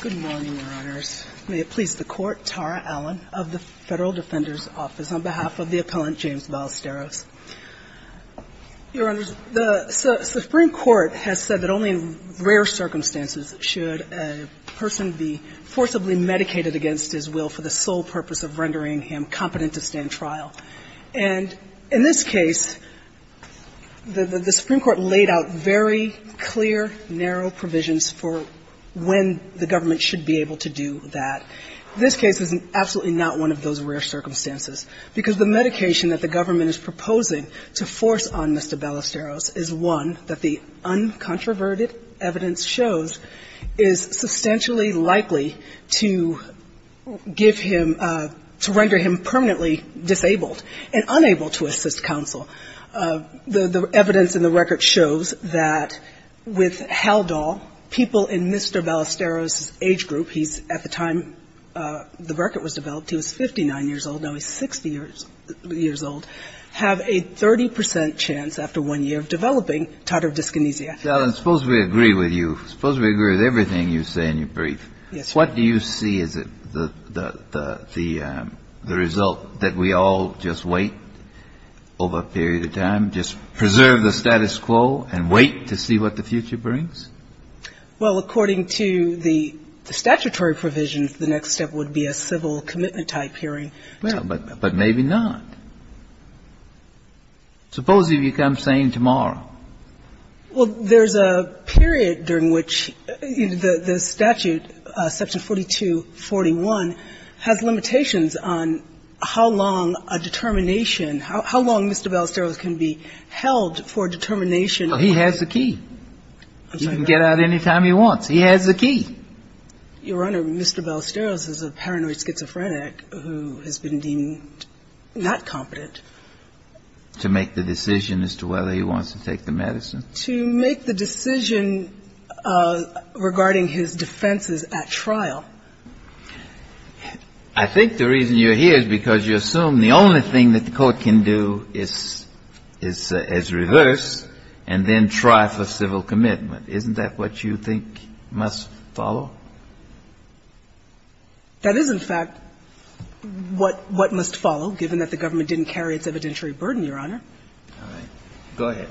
Good morning, Your Honors. May it please the Court, Tara Allen of the Federal Defender's Office, on behalf of the appellant James Ballesteros. Your Honors, the Supreme Court has said that only in rare circumstances should a person be forcibly medicated against his will for the sole purpose of rendering him competent to stand trial. And in this case, the Supreme Court laid out very clear, narrow provisions for when the government should be able to do that. This case is absolutely not one of those rare circumstances, because the medication that the government is proposing to force on Mr. Ballesteros is one that the uncontroverted evidence shows is substantially likely to give him – to render him permanently disabled and unable to assist counsel. The evidence in the record shows that with Haldol, people in Mr. Ballesteros's age group – he's, at the time the record was developed, he was 59 years old, now he's 60 years old – have a 30 percent chance, after one year of developing, titer dyskinesia. Kennedy So, Allen, suppose we agree with you. Suppose we agree with everything you say in your brief. Allen Yes, Your Honor. Kennedy What do you see as the result, that we all just wait over a period of time, just preserve the status quo and wait to see what the future brings? Allen Well, according to the statutory provisions, the next step would be a civil commitment-type hearing. Well, but maybe not. Suppose you become sane tomorrow. Kagan Well, there's a period during which the statute, Section 4241, has limitations on how long a determination – how long Mr. Ballesteros can be held for determination. Allen Well, he has the key. He can get out any time he wants. He has the key. Kagan Your Honor, Mr. Ballesteros is a paranoid schizophrenic who has been deemed not competent. Kennedy To make the decision as to whether he wants to take the medicine? Kagan To make the decision regarding his defenses at trial. Kennedy I think the reason you're here is because you assume the only thing that the Court can do is reverse and then try for civil commitment. Isn't that what you think must follow? Kagan That is, in fact, what must follow, given that the government didn't carry its evidentiary burden, Your Honor. Kennedy All right. Go ahead.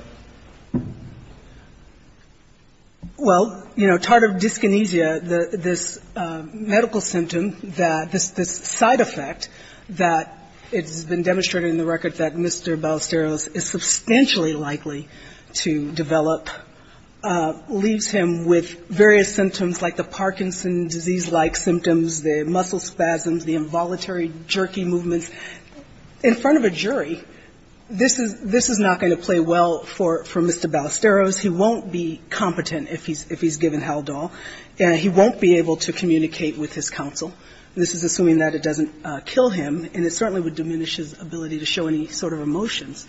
Kagan Well, you know, tardive dyskinesia, this medical symptom, this side effect that has been demonstrated in the record that Mr. Ballesteros is substantially likely to develop, leaves him with various symptoms like the Parkinson's disease-like symptoms, the muscle spasms, the involuntary jerky movements. In front of a jury, this is not going to play well for Mr. Ballesteros. He won't be competent if he's given Haldol. He won't be able to communicate with his counsel. This is assuming that it doesn't kill him, and it certainly would diminish his ability to show any sort of emotions.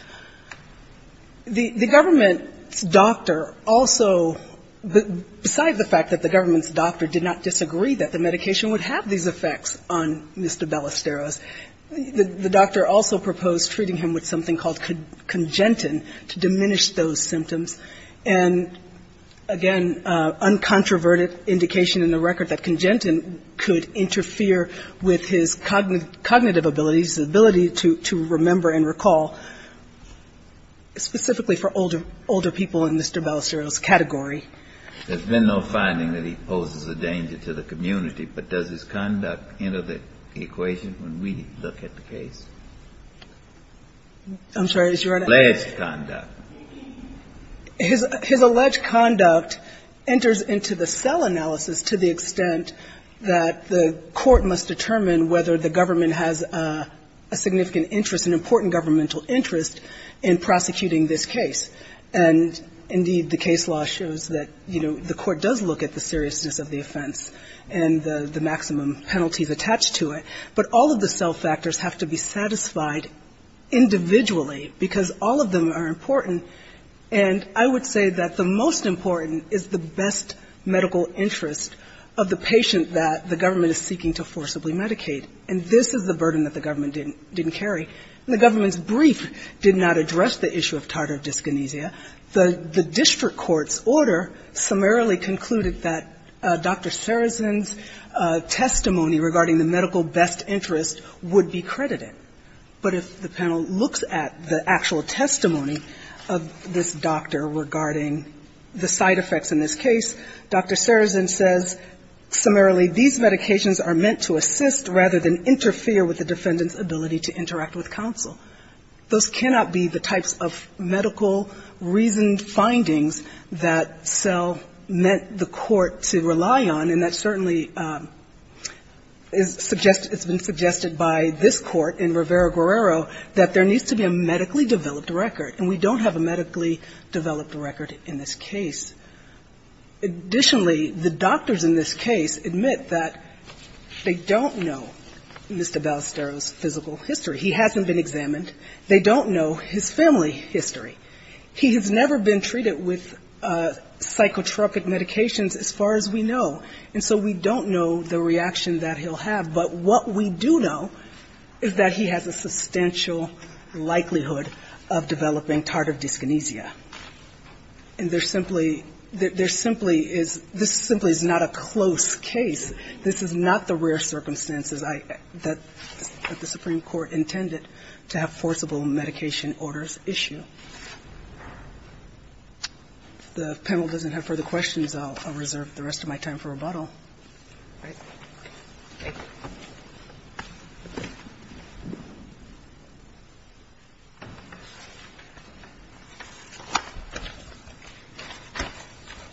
The government's doctor also, beside the fact that the government's doctor did not disagree that the medication would have these effects on Mr. Ballesteros, the doctor also proposed treating him with something called congentin to diminish those symptoms. And, again, uncontroverted indication in the record that congentin could interfere with his cognitive abilities, the ability to remember and recall, specifically for older people in Mr. Ballesteros's category. Kennedy There's been no finding that he poses a danger to the community, but does his conduct enter the equation when we look at the case? Blatt I'm sorry, Your Honor. Kennedy Alleged conduct. Blatt His alleged conduct enters into the cell analysis to the extent that the court must determine whether the government has a significant interest, an important governmental interest, in prosecuting this case. And, indeed, the case law shows that, you know, the court does look at the seriousness of the offense and the maximum penalties attached to it, but all of the cell factors have to be satisfied individually, because all of them are important. And I would say that the most important is the best medical interest of the patient that the government is seeking to forcibly medicate. And this is the burden that the government didn't carry. The government's brief did not address the issue of tardive dyskinesia. The district court's order summarily concluded that Dr. Saracen's testimony regarding the medical best interest would be credited. But if the panel looks at the actual testimony of this doctor regarding the side effects in this case, Dr. Saracen says, summarily, these medications are meant to assist rather than interfere with the defendant's ability to interact with counsel. Those cannot be the types of medical reasoned findings that cell meant the court to rely on, and that certainly is suggested by this Court in Rivera-Guerrero that there needs to be a medically developed record, and we don't have a medically developed record in this case. Additionally, the doctors in this case admit that they don't know Mr. Ballesteros' physical history. He hasn't been examined. They don't know his family history. He has never been treated with psychotropic medications as far as we know, and so we don't know the reaction that he'll have. But what we do know is that he has a substantial likelihood of developing tardive dyskinesia. And there simply is this simply is not a close case. This is not the rare circumstances that the Supreme Court intended to have forcible medication orders issue. If the panel doesn't have further questions, I'll reserve the rest of my time for rebuttal. All right. Thank you.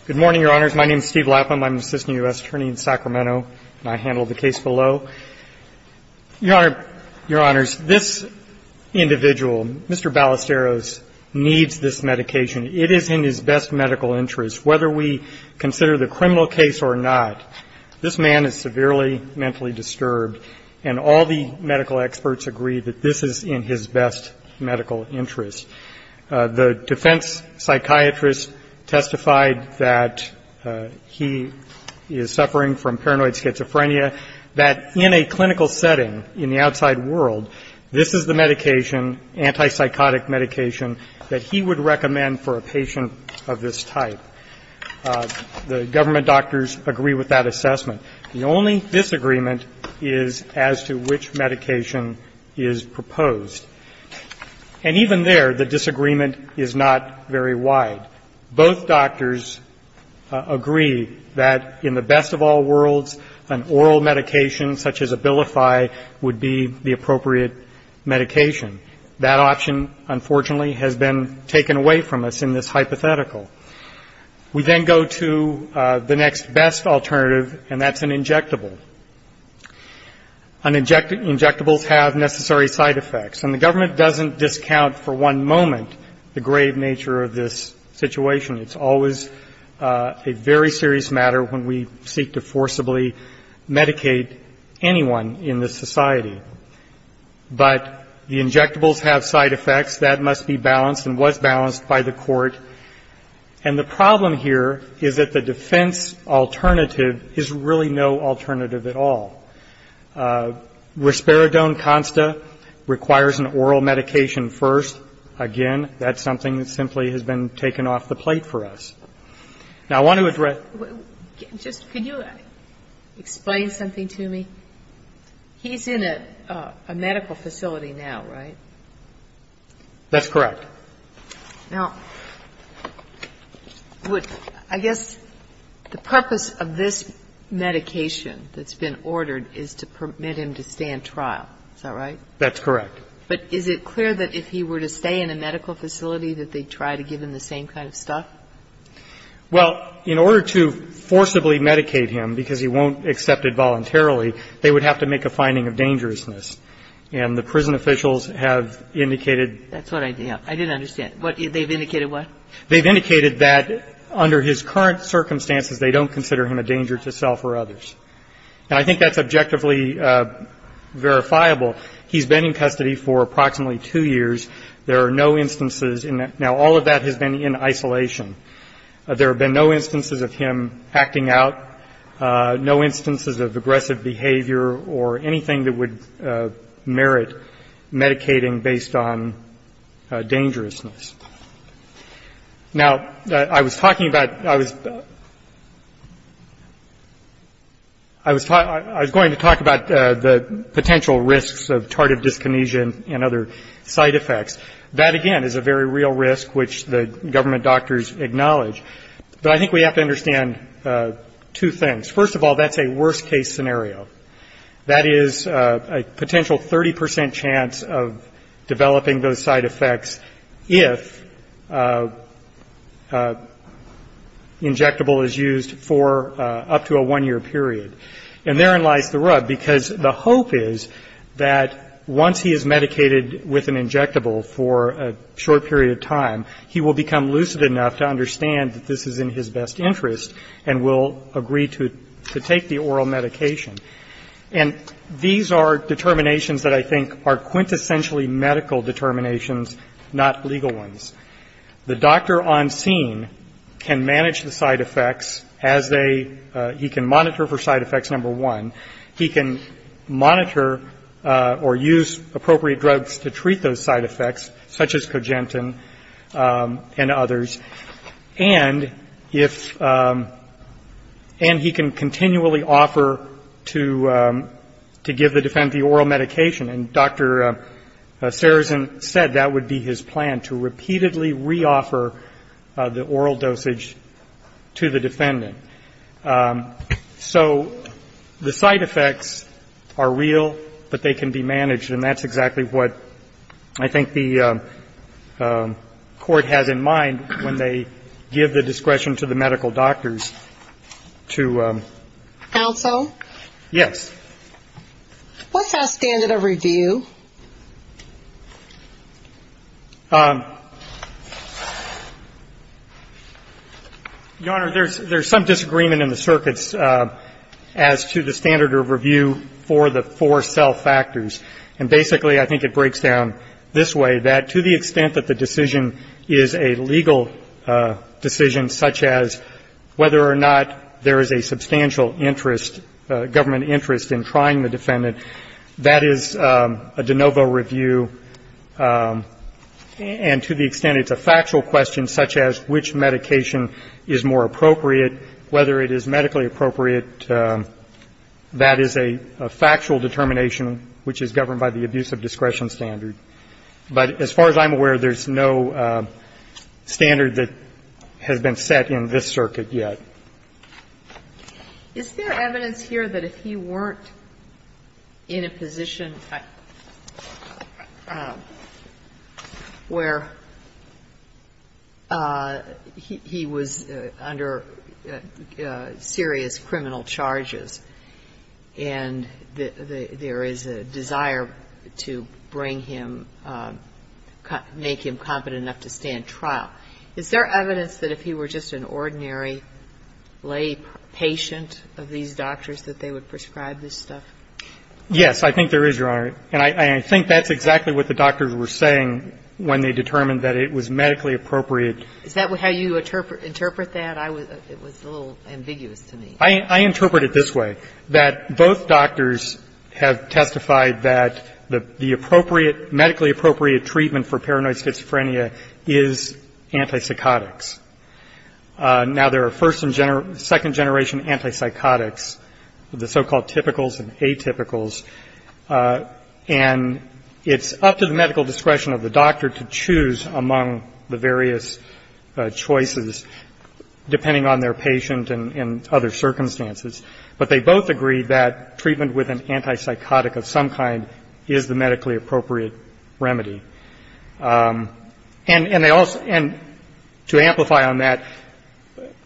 Good morning, Your Honors. My name is Steve Lapham. I'm an assistant U.S. attorney in Sacramento, and I handled the case below. So, Your Honor, Your Honors, this individual, Mr. Ballesteros, needs this medication. It is in his best medical interest. Whether we consider the criminal case or not, this man is severely mentally disturbed, and all the medical experts agree that this is in his best medical interest. The defense psychiatrist testified that he is suffering from paranoid schizophrenia. That in a clinical setting in the outside world, this is the medication, antipsychotic medication, that he would recommend for a patient of this type. The government doctors agree with that assessment. The only disagreement is as to which medication is proposed. And even there, the disagreement is not very wide. Both doctors agree that in the best of all worlds, an oral medication, such as Abilify, would be the appropriate medication. That option, unfortunately, has been taken away from us in this hypothetical. We then go to the next best alternative, and that's an injectable. And injectables have necessary side effects. And the government doesn't discount for one moment the grave nature of this situation. It's always a very serious matter when we seek to forcibly medicate anyone in this society. But the injectables have side effects. That must be balanced and was balanced by the Court. And the problem here is that the defense alternative is really no alternative at all. Risperidone-Consta requires an oral medication first. Again, that's something that simply has been taken off the plate for us. Now, I want to address ---- Just could you explain something to me? He's in a medical facility now, right? That's correct. Now, I guess the purpose of this medication that's been ordered is to permit him to stay in trial. Is that right? That's correct. But is it clear that if he were to stay in a medical facility that they'd try to give him the same kind of stuff? Well, in order to forcibly medicate him, because he won't accept it voluntarily, they would have to make a finding of dangerousness. And the prison officials have indicated ---- I didn't understand. They've indicated what? They've indicated that under his current circumstances they don't consider him a danger to self or others. And I think that's objectively verifiable. He's been in custody for approximately two years. There are no instances in that. Now, all of that has been in isolation. There have been no instances of him acting out, no instances of aggressive behavior or anything that would merit medicating based on dangerousness. Now, I was talking about ---- I was going to talk about the potential risks of tardive dyskinesia and other side effects. That, again, is a very real risk, which the government doctors acknowledge. But I think we have to understand two things. First of all, that's a worst-case scenario. That is a potential 30 percent chance of developing those side effects if injectable is used for up to a one-year period. And therein lies the rub, because the hope is that once he is medicated with an injectable for a short period of time, he will become lucid enough to understand that this is in his best interest and will agree to take the oral medication. And these are determinations that I think are quintessentially medical determinations, not legal ones. The doctor on scene can manage the side effects as they ---- he can monitor for side effects, number one. He can monitor or use appropriate drugs to treat those side effects, such as Cogentin and others. And if ---- and he can continually offer to give the defendant the oral medication. And Dr. Sarazin said that would be his plan, to repeatedly reoffer the oral dosage to the defendant. So the side effects are real, but they can be managed. And that's exactly what I think the Court has in mind when they give the discretion to the medical doctors to ---- Counsel? Yes. What's our standard of review? Your Honor, there's some disagreement in the circuits as to the standard of review for the four self-factors. And basically, I think it breaks down this way, that to the extent that the decision is a legal decision, such as whether or not there is a substantial interest, government interest, in trying the defendant, that is the standard of review. A de novo review, and to the extent it's a factual question, such as which medication is more appropriate, whether it is medically appropriate, that is a factual determination which is governed by the abuse of discretion standard. But as far as I'm aware, there's no standard that has been set in this circuit yet. Is there evidence here that if he weren't in a position where he was under serious criminal charges, and there is a desire to bring him, make him competent enough to stand trial, is there evidence that if he were just an ordinary lay patient of these doctors that they would prescribe this stuff? Yes. I think there is, Your Honor. And I think that's exactly what the doctors were saying when they determined that it was medically appropriate. Is that how you interpret that? It was a little ambiguous to me. I interpret it this way, that both doctors have testified that the appropriate medically appropriate treatment for paranoid schizophrenia is antipsychotics. Now, there are first and second generation antipsychotics, the so-called typicals and atypicals, and it's up to the medical discretion of the doctor to choose among the various choices, depending on their patient and other circumstances. But they both agreed that treatment with an antipsychotic of some kind is the medically appropriate remedy. And to amplify on that,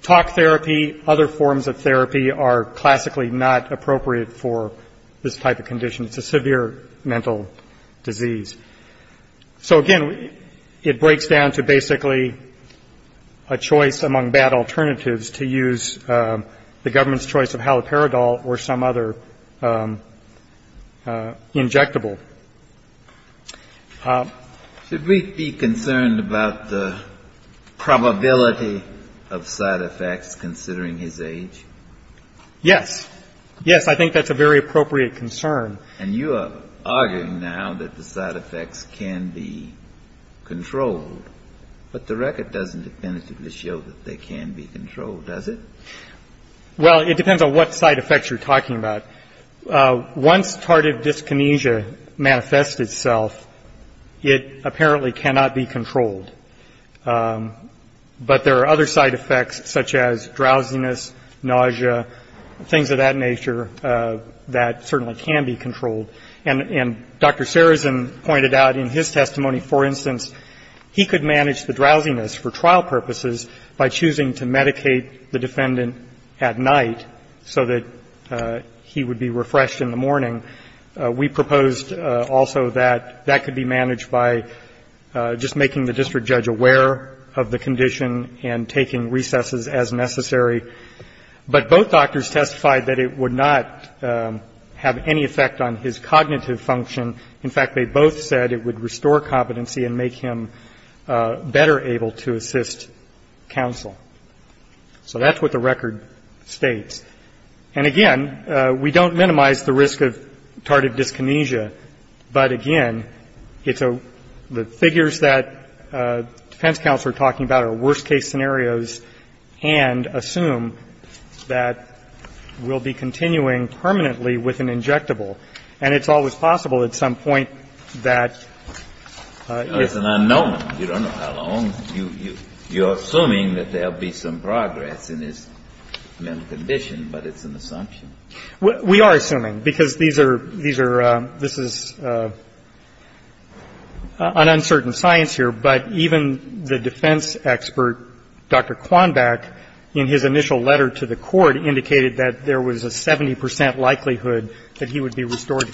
talk therapy, other forms of therapy are classically not appropriate for this type of condition. It's a severe mental disease. So, again, it breaks down to basically a choice among bad alternatives to use the Should we be concerned about the probability of side effects considering his age? Yes. Yes, I think that's a very appropriate concern. And you are arguing now that the side effects can be controlled. But the record doesn't definitively show that they can be controlled, does it? Well, it depends on what side effects you're talking about. Once tardive dyskinesia manifests itself, it apparently cannot be controlled. But there are other side effects such as drowsiness, nausea, things of that nature that certainly can be controlled. And Dr. Sarazin pointed out in his testimony, for instance, he could manage the drowsiness for trial purposes by choosing to medicate the defendant at night so that he would be refreshed in the morning. We proposed also that that could be managed by just making the district judge aware of the condition and taking recesses as necessary. But both doctors testified that it would not have any effect on his cognitive function. In fact, they both said it would restore competency and make him better able to assist counsel. So that's what the record states. And, again, we don't minimize the risk of tardive dyskinesia. But, again, the figures that defense counsel are talking about are worst-case scenarios and assume that we'll be continuing permanently with an injectable. And it's always possible at some point that it's an unknown. You don't know how long. You're assuming that there will be some progress in his mental condition, but it's an assumption. We are assuming, because these are – this is an uncertain science here. But even the defense expert, Dr. Quonbach, in his initial letter to the Court, indicated that there was a 70 percent likelihood that he would be restored to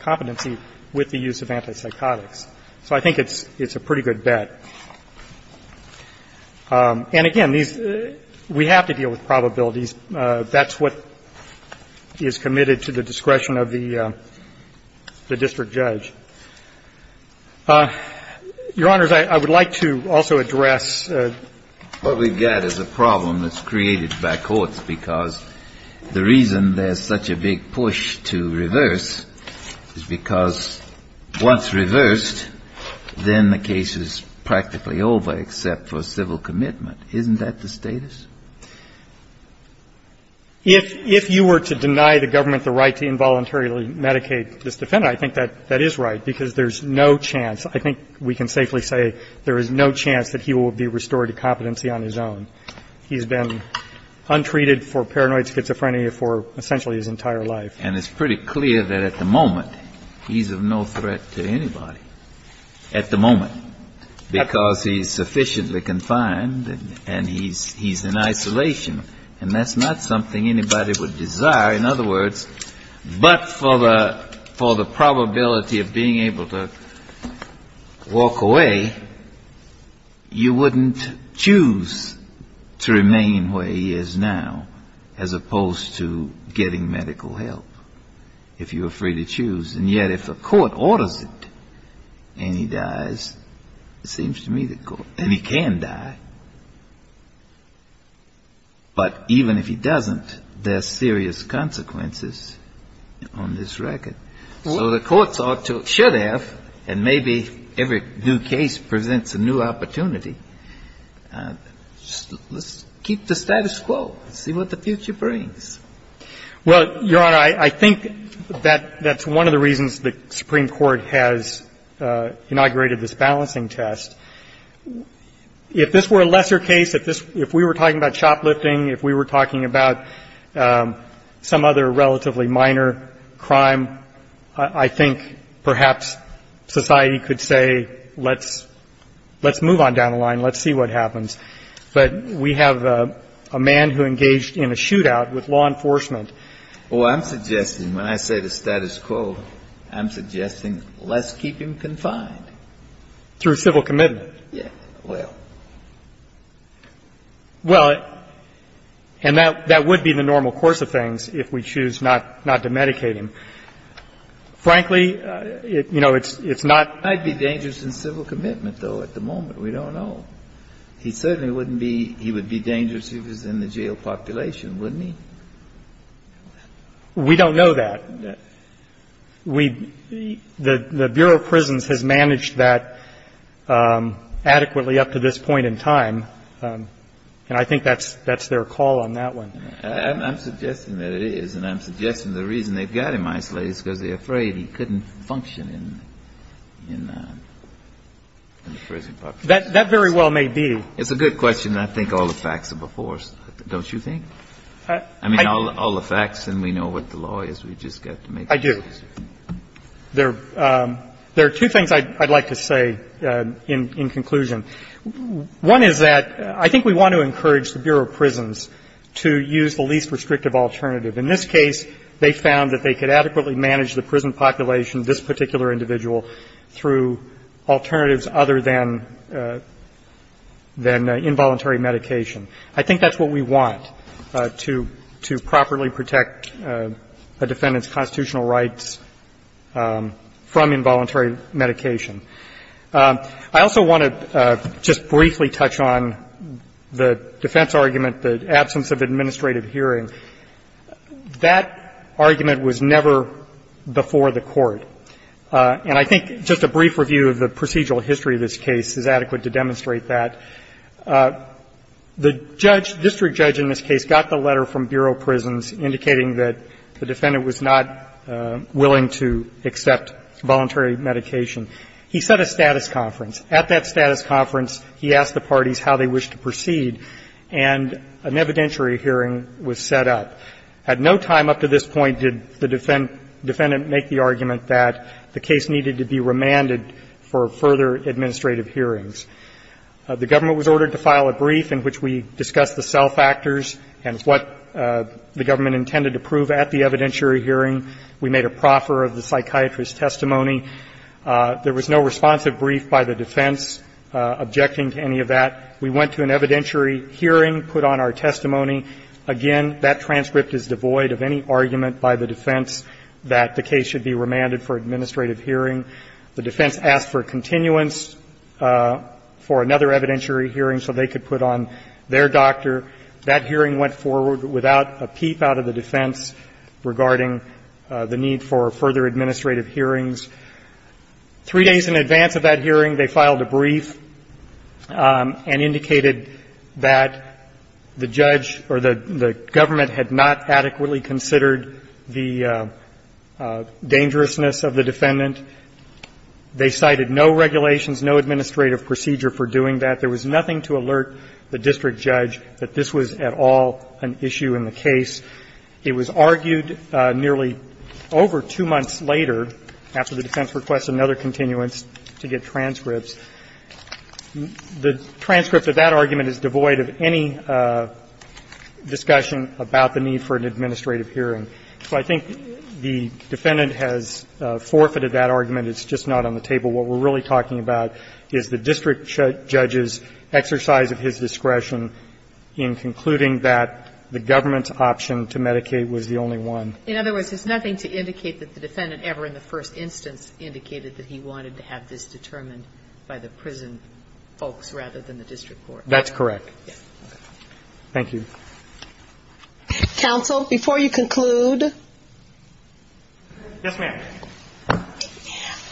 competency with the use of antipsychotics. So I think it's a pretty good bet. And, again, these – we have to deal with probabilities. That's what is committed to the discretion of the district judge. Your Honors, I would like to also address – I would like to also address the problem that's created by courts, because the reason there's such a big push to reverse is because once reversed, then the case is practically over except for civil commitment. Isn't that the status? If you were to deny the government the right to involuntarily medicate this defendant, I think that is right, because there's no chance – I think we can safely say there is no chance that he will be restored to competency on his own. He's been untreated for paranoid schizophrenia for essentially his entire life. And it's pretty clear that at the moment he's of no threat to anybody, at the moment, because he's sufficiently confined and he's in isolation. And that's not something anybody would desire. In other words, but for the probability of being able to walk away, you wouldn't choose to remain where he is now as opposed to getting medical help, if you were free to choose. And yet if a court orders it and he dies, it seems to me the court – and he can die, but even if he doesn't, there's serious consequences on this record. So the courts ought to – should have, and maybe every new case presents a new opportunity, let's keep the status quo, see what the future brings. Well, Your Honor, I think that that's one of the reasons the Supreme Court has inaugurated this balancing test. If this were a lesser case, if this – if we were talking about shoplifting, if we were talking about some other relatively minor crime, I think perhaps society could say let's move on down the line, let's see what happens. But we have a man who engaged in a shootout with law enforcement. Well, I'm suggesting when I say the status quo, I'm suggesting let's keep him confined. Through civil commitment. Yes, well. Well, and that would be the normal course of things if we choose not to medicate him. Frankly, you know, it's not – It might be dangerous in civil commitment, though, at the moment. We don't know. He certainly wouldn't be – he would be dangerous if he was in the jail population, wouldn't he? We don't know that. We – the Bureau of Prisons has managed that adequately up to this point in time, and I think that's their call on that one. I'm suggesting that it is, and I'm suggesting the reason they've got him isolated is because they're afraid he couldn't function in the prison population. That very well may be. It's a good question, and I think all the facts are before us, don't you think? I mean, all the facts, and we know what the law is. We've just got to make decisions. I do. There are two things I'd like to say in conclusion. One is that I think we want to encourage the Bureau of Prisons to use the least restrictive alternative. In this case, they found that they could adequately manage the prison population, this particular individual, through alternatives other than – than involuntary medication. I think that's what we want, to properly protect a defendant's constitutional rights from involuntary medication. I also want to just briefly touch on the defense argument, the absence of administrative hearing. That argument was never before the Court, and I think just a brief review of the procedural history of this case is adequate to demonstrate that. The judge, district judge in this case, got the letter from Bureau of Prisons indicating that the defendant was not willing to accept voluntary medication. He set a status conference. At that status conference, he asked the parties how they wished to proceed, and an evidentiary hearing was set up. At no time up to this point did the defendant make the argument that the case needed to be remanded for further administrative hearings. The government was ordered to file a brief in which we discussed the self-factors and what the government intended to prove at the evidentiary hearing. We made a proffer of the psychiatrist's testimony. There was no responsive brief by the defense objecting to any of that. We went to an evidentiary hearing, put on our testimony. Again, that transcript is devoid of any argument by the defense that the case should be remanded for administrative hearing. The defense asked for continuance for another evidentiary hearing so they could put on their doctor. That hearing went forward without a peep out of the defense regarding the need for further administrative hearings. Three days in advance of that hearing, they filed a brief and indicated that the judge or the government had not adequately considered the dangerousness of the defendant. They cited no regulations, no administrative procedure for doing that. There was nothing to alert the district judge that this was at all an issue in the It was argued nearly over two months later, after the defense requested another continuance, to get transcripts. The transcript of that argument is devoid of any discussion about the need for an administrative hearing. So I think the defendant has forfeited that argument. It's just not on the table. What we're really talking about is the district judge's exercise of his discretion in concluding that the government's option to medicate was the only one. In other words, there's nothing to indicate that the defendant ever in the first instance indicated that he wanted to have this determined by the prison folks rather than the district court. That's correct. Thank you. Counsel, before you conclude. Yes, ma'am.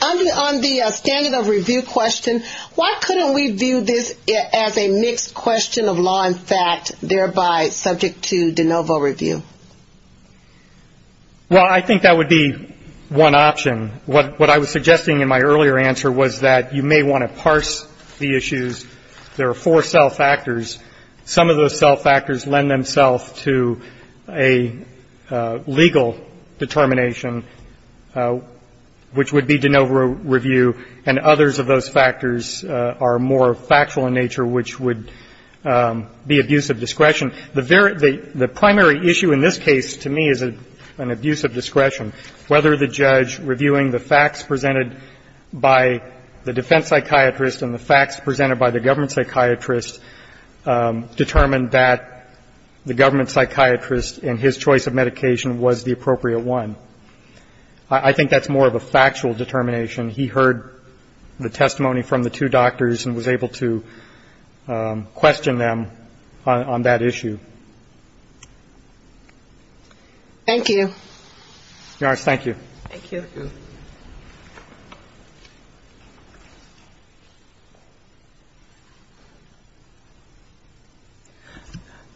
On the standard of review question, why couldn't we view this as a mixed question of law and fact, thereby subject to de novo review? Well, I think that would be one option. What I was suggesting in my earlier answer was that you may want to parse the issues. There are four self-factors. Some of those self-factors lend themselves to a legal determination. Which would be de novo review. And others of those factors are more factual in nature, which would be abuse of discretion. The primary issue in this case to me is an abuse of discretion, whether the judge reviewing the facts presented by the defense psychiatrist and the facts presented by the government psychiatrist determined that the government psychiatrist and his choice of medication was the appropriate one. I think that's more of a factual determination. He heard the testimony from the two doctors and was able to question them on that issue. Thank you. Your Honor, thank you. Thank you.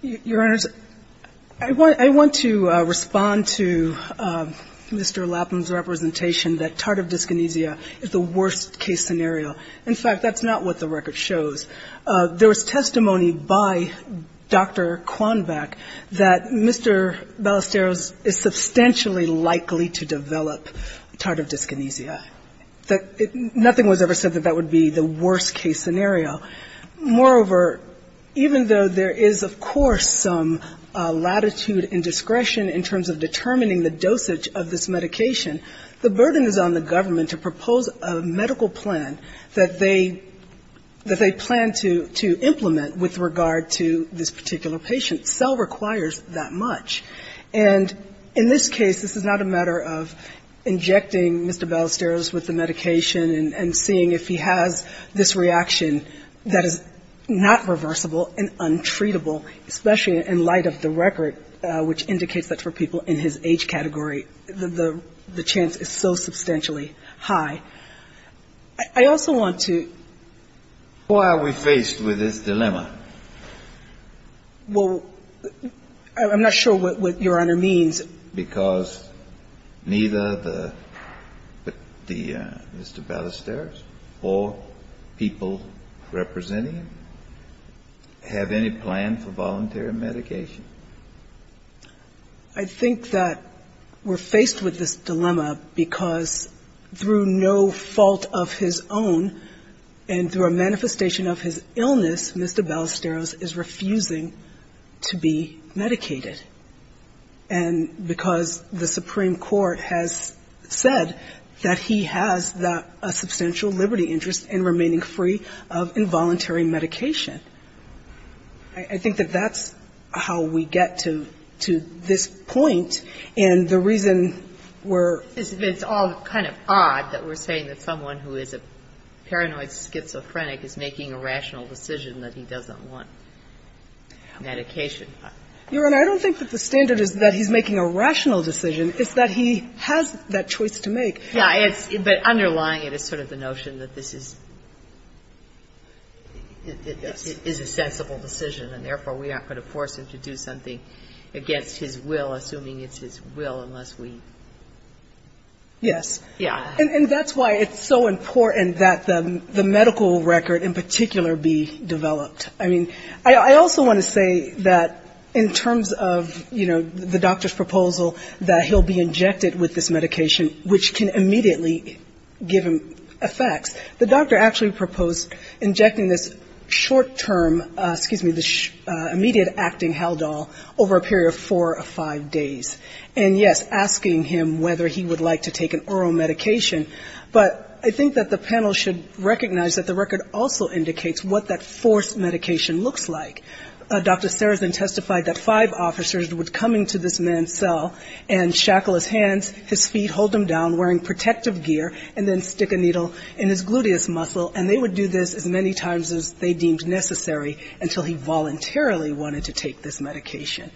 Your Honor, I want to respond to Mr. Lapham's representation that TARDIV dyskinesia is the worst-case scenario. In fact, that's not what the record shows. There was testimony by Dr. Quonvac that Mr. Ballesteros is substantially likely to develop dyskinesia. That nothing was ever said that that would be the worst-case scenario. Moreover, even though there is, of course, some latitude and discretion in terms of determining the dosage of this medication, the burden is on the government to propose a medical plan that they plan to implement with regard to this particular patient. Cell requires that much. And in this case, this is not a matter of injecting Mr. Ballesteros with the medication and seeing if he has this reaction that is not reversible and untreatable, especially in light of the record, which indicates that for people in his age category, the chance is so substantially high. I also want to ---- Why are we faced with this dilemma? Well, I'm not sure what Your Honor means. Because neither the Mr. Ballesteros or people representing him have any plan for voluntary medication? I think that we're faced with this dilemma because through no fault of his own and through a manifestation of his illness, Mr. Ballesteros is refusing to be medicated. And because the Supreme Court has said that he has a substantial liberty interest in remaining free of involuntary medication. I think that that's how we get to this point. And the reason we're ---- Your Honor, I don't think that the standard is that he's making a rational decision. It's that he has that choice to make. Yeah. But underlying it is sort of the notion that this is a sensible decision. And therefore, we aren't going to force him to do something against his will, assuming it's his will, unless we ---- Yes. Yeah. And that's why it's so important that the medical record in particular be developed. I mean, I also want to say that in terms of, you know, the doctor's proposal that he'll be injected with this medication, which can immediately give him effects. The doctor actually proposed injecting this short-term, excuse me, this immediate acting Haldol over a period of four or five days. And, yes, asking him whether he would like to take an oral medication. But I think that the panel should recognize that the record also indicates what that forced medication looks like. Dr. Sarazin testified that five officers would come into this man's cell and shackle his hands, his feet, hold him down, wearing protective gear, and then stick a needle in his gluteus muscle. And they would do this as many times as they deemed necessary until he voluntarily wanted to take this medication.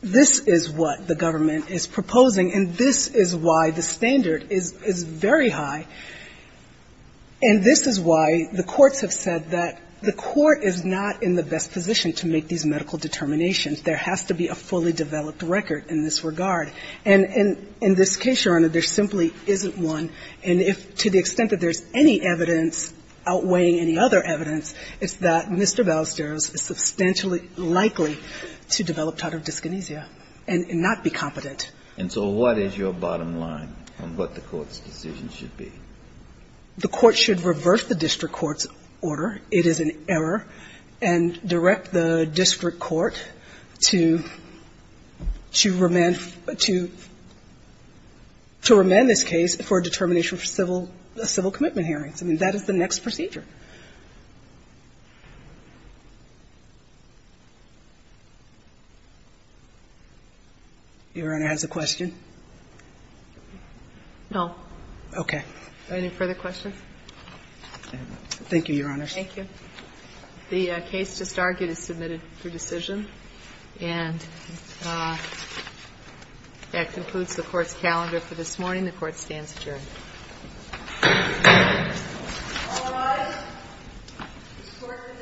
This is what the government is proposing, and this is why the standard is very high. And this is why the courts have said that the court is not in the best position to make these medical determinations. There has to be a fully developed record in this regard. And in this case, Your Honor, there simply isn't one. And if to the extent that there's any evidence outweighing any other evidence, it's that Mr. Ballesteros is substantially likely to develop totive dyskinesia and not be competent. And so what is your bottom line on what the court's decision should be? The court should reverse the district court's order. It is an error. And direct the district court to remand this case for a determination of civil commitment hearings. I mean, that is the next procedure. Your Honor, has a question? No. Okay. Any further questions? Thank you, Your Honor. Thank you. The case just argued is submitted for decision. And that concludes the Court's calendar for this morning. The Court stands adjourned. All rise. The Court for this session stands adjourned.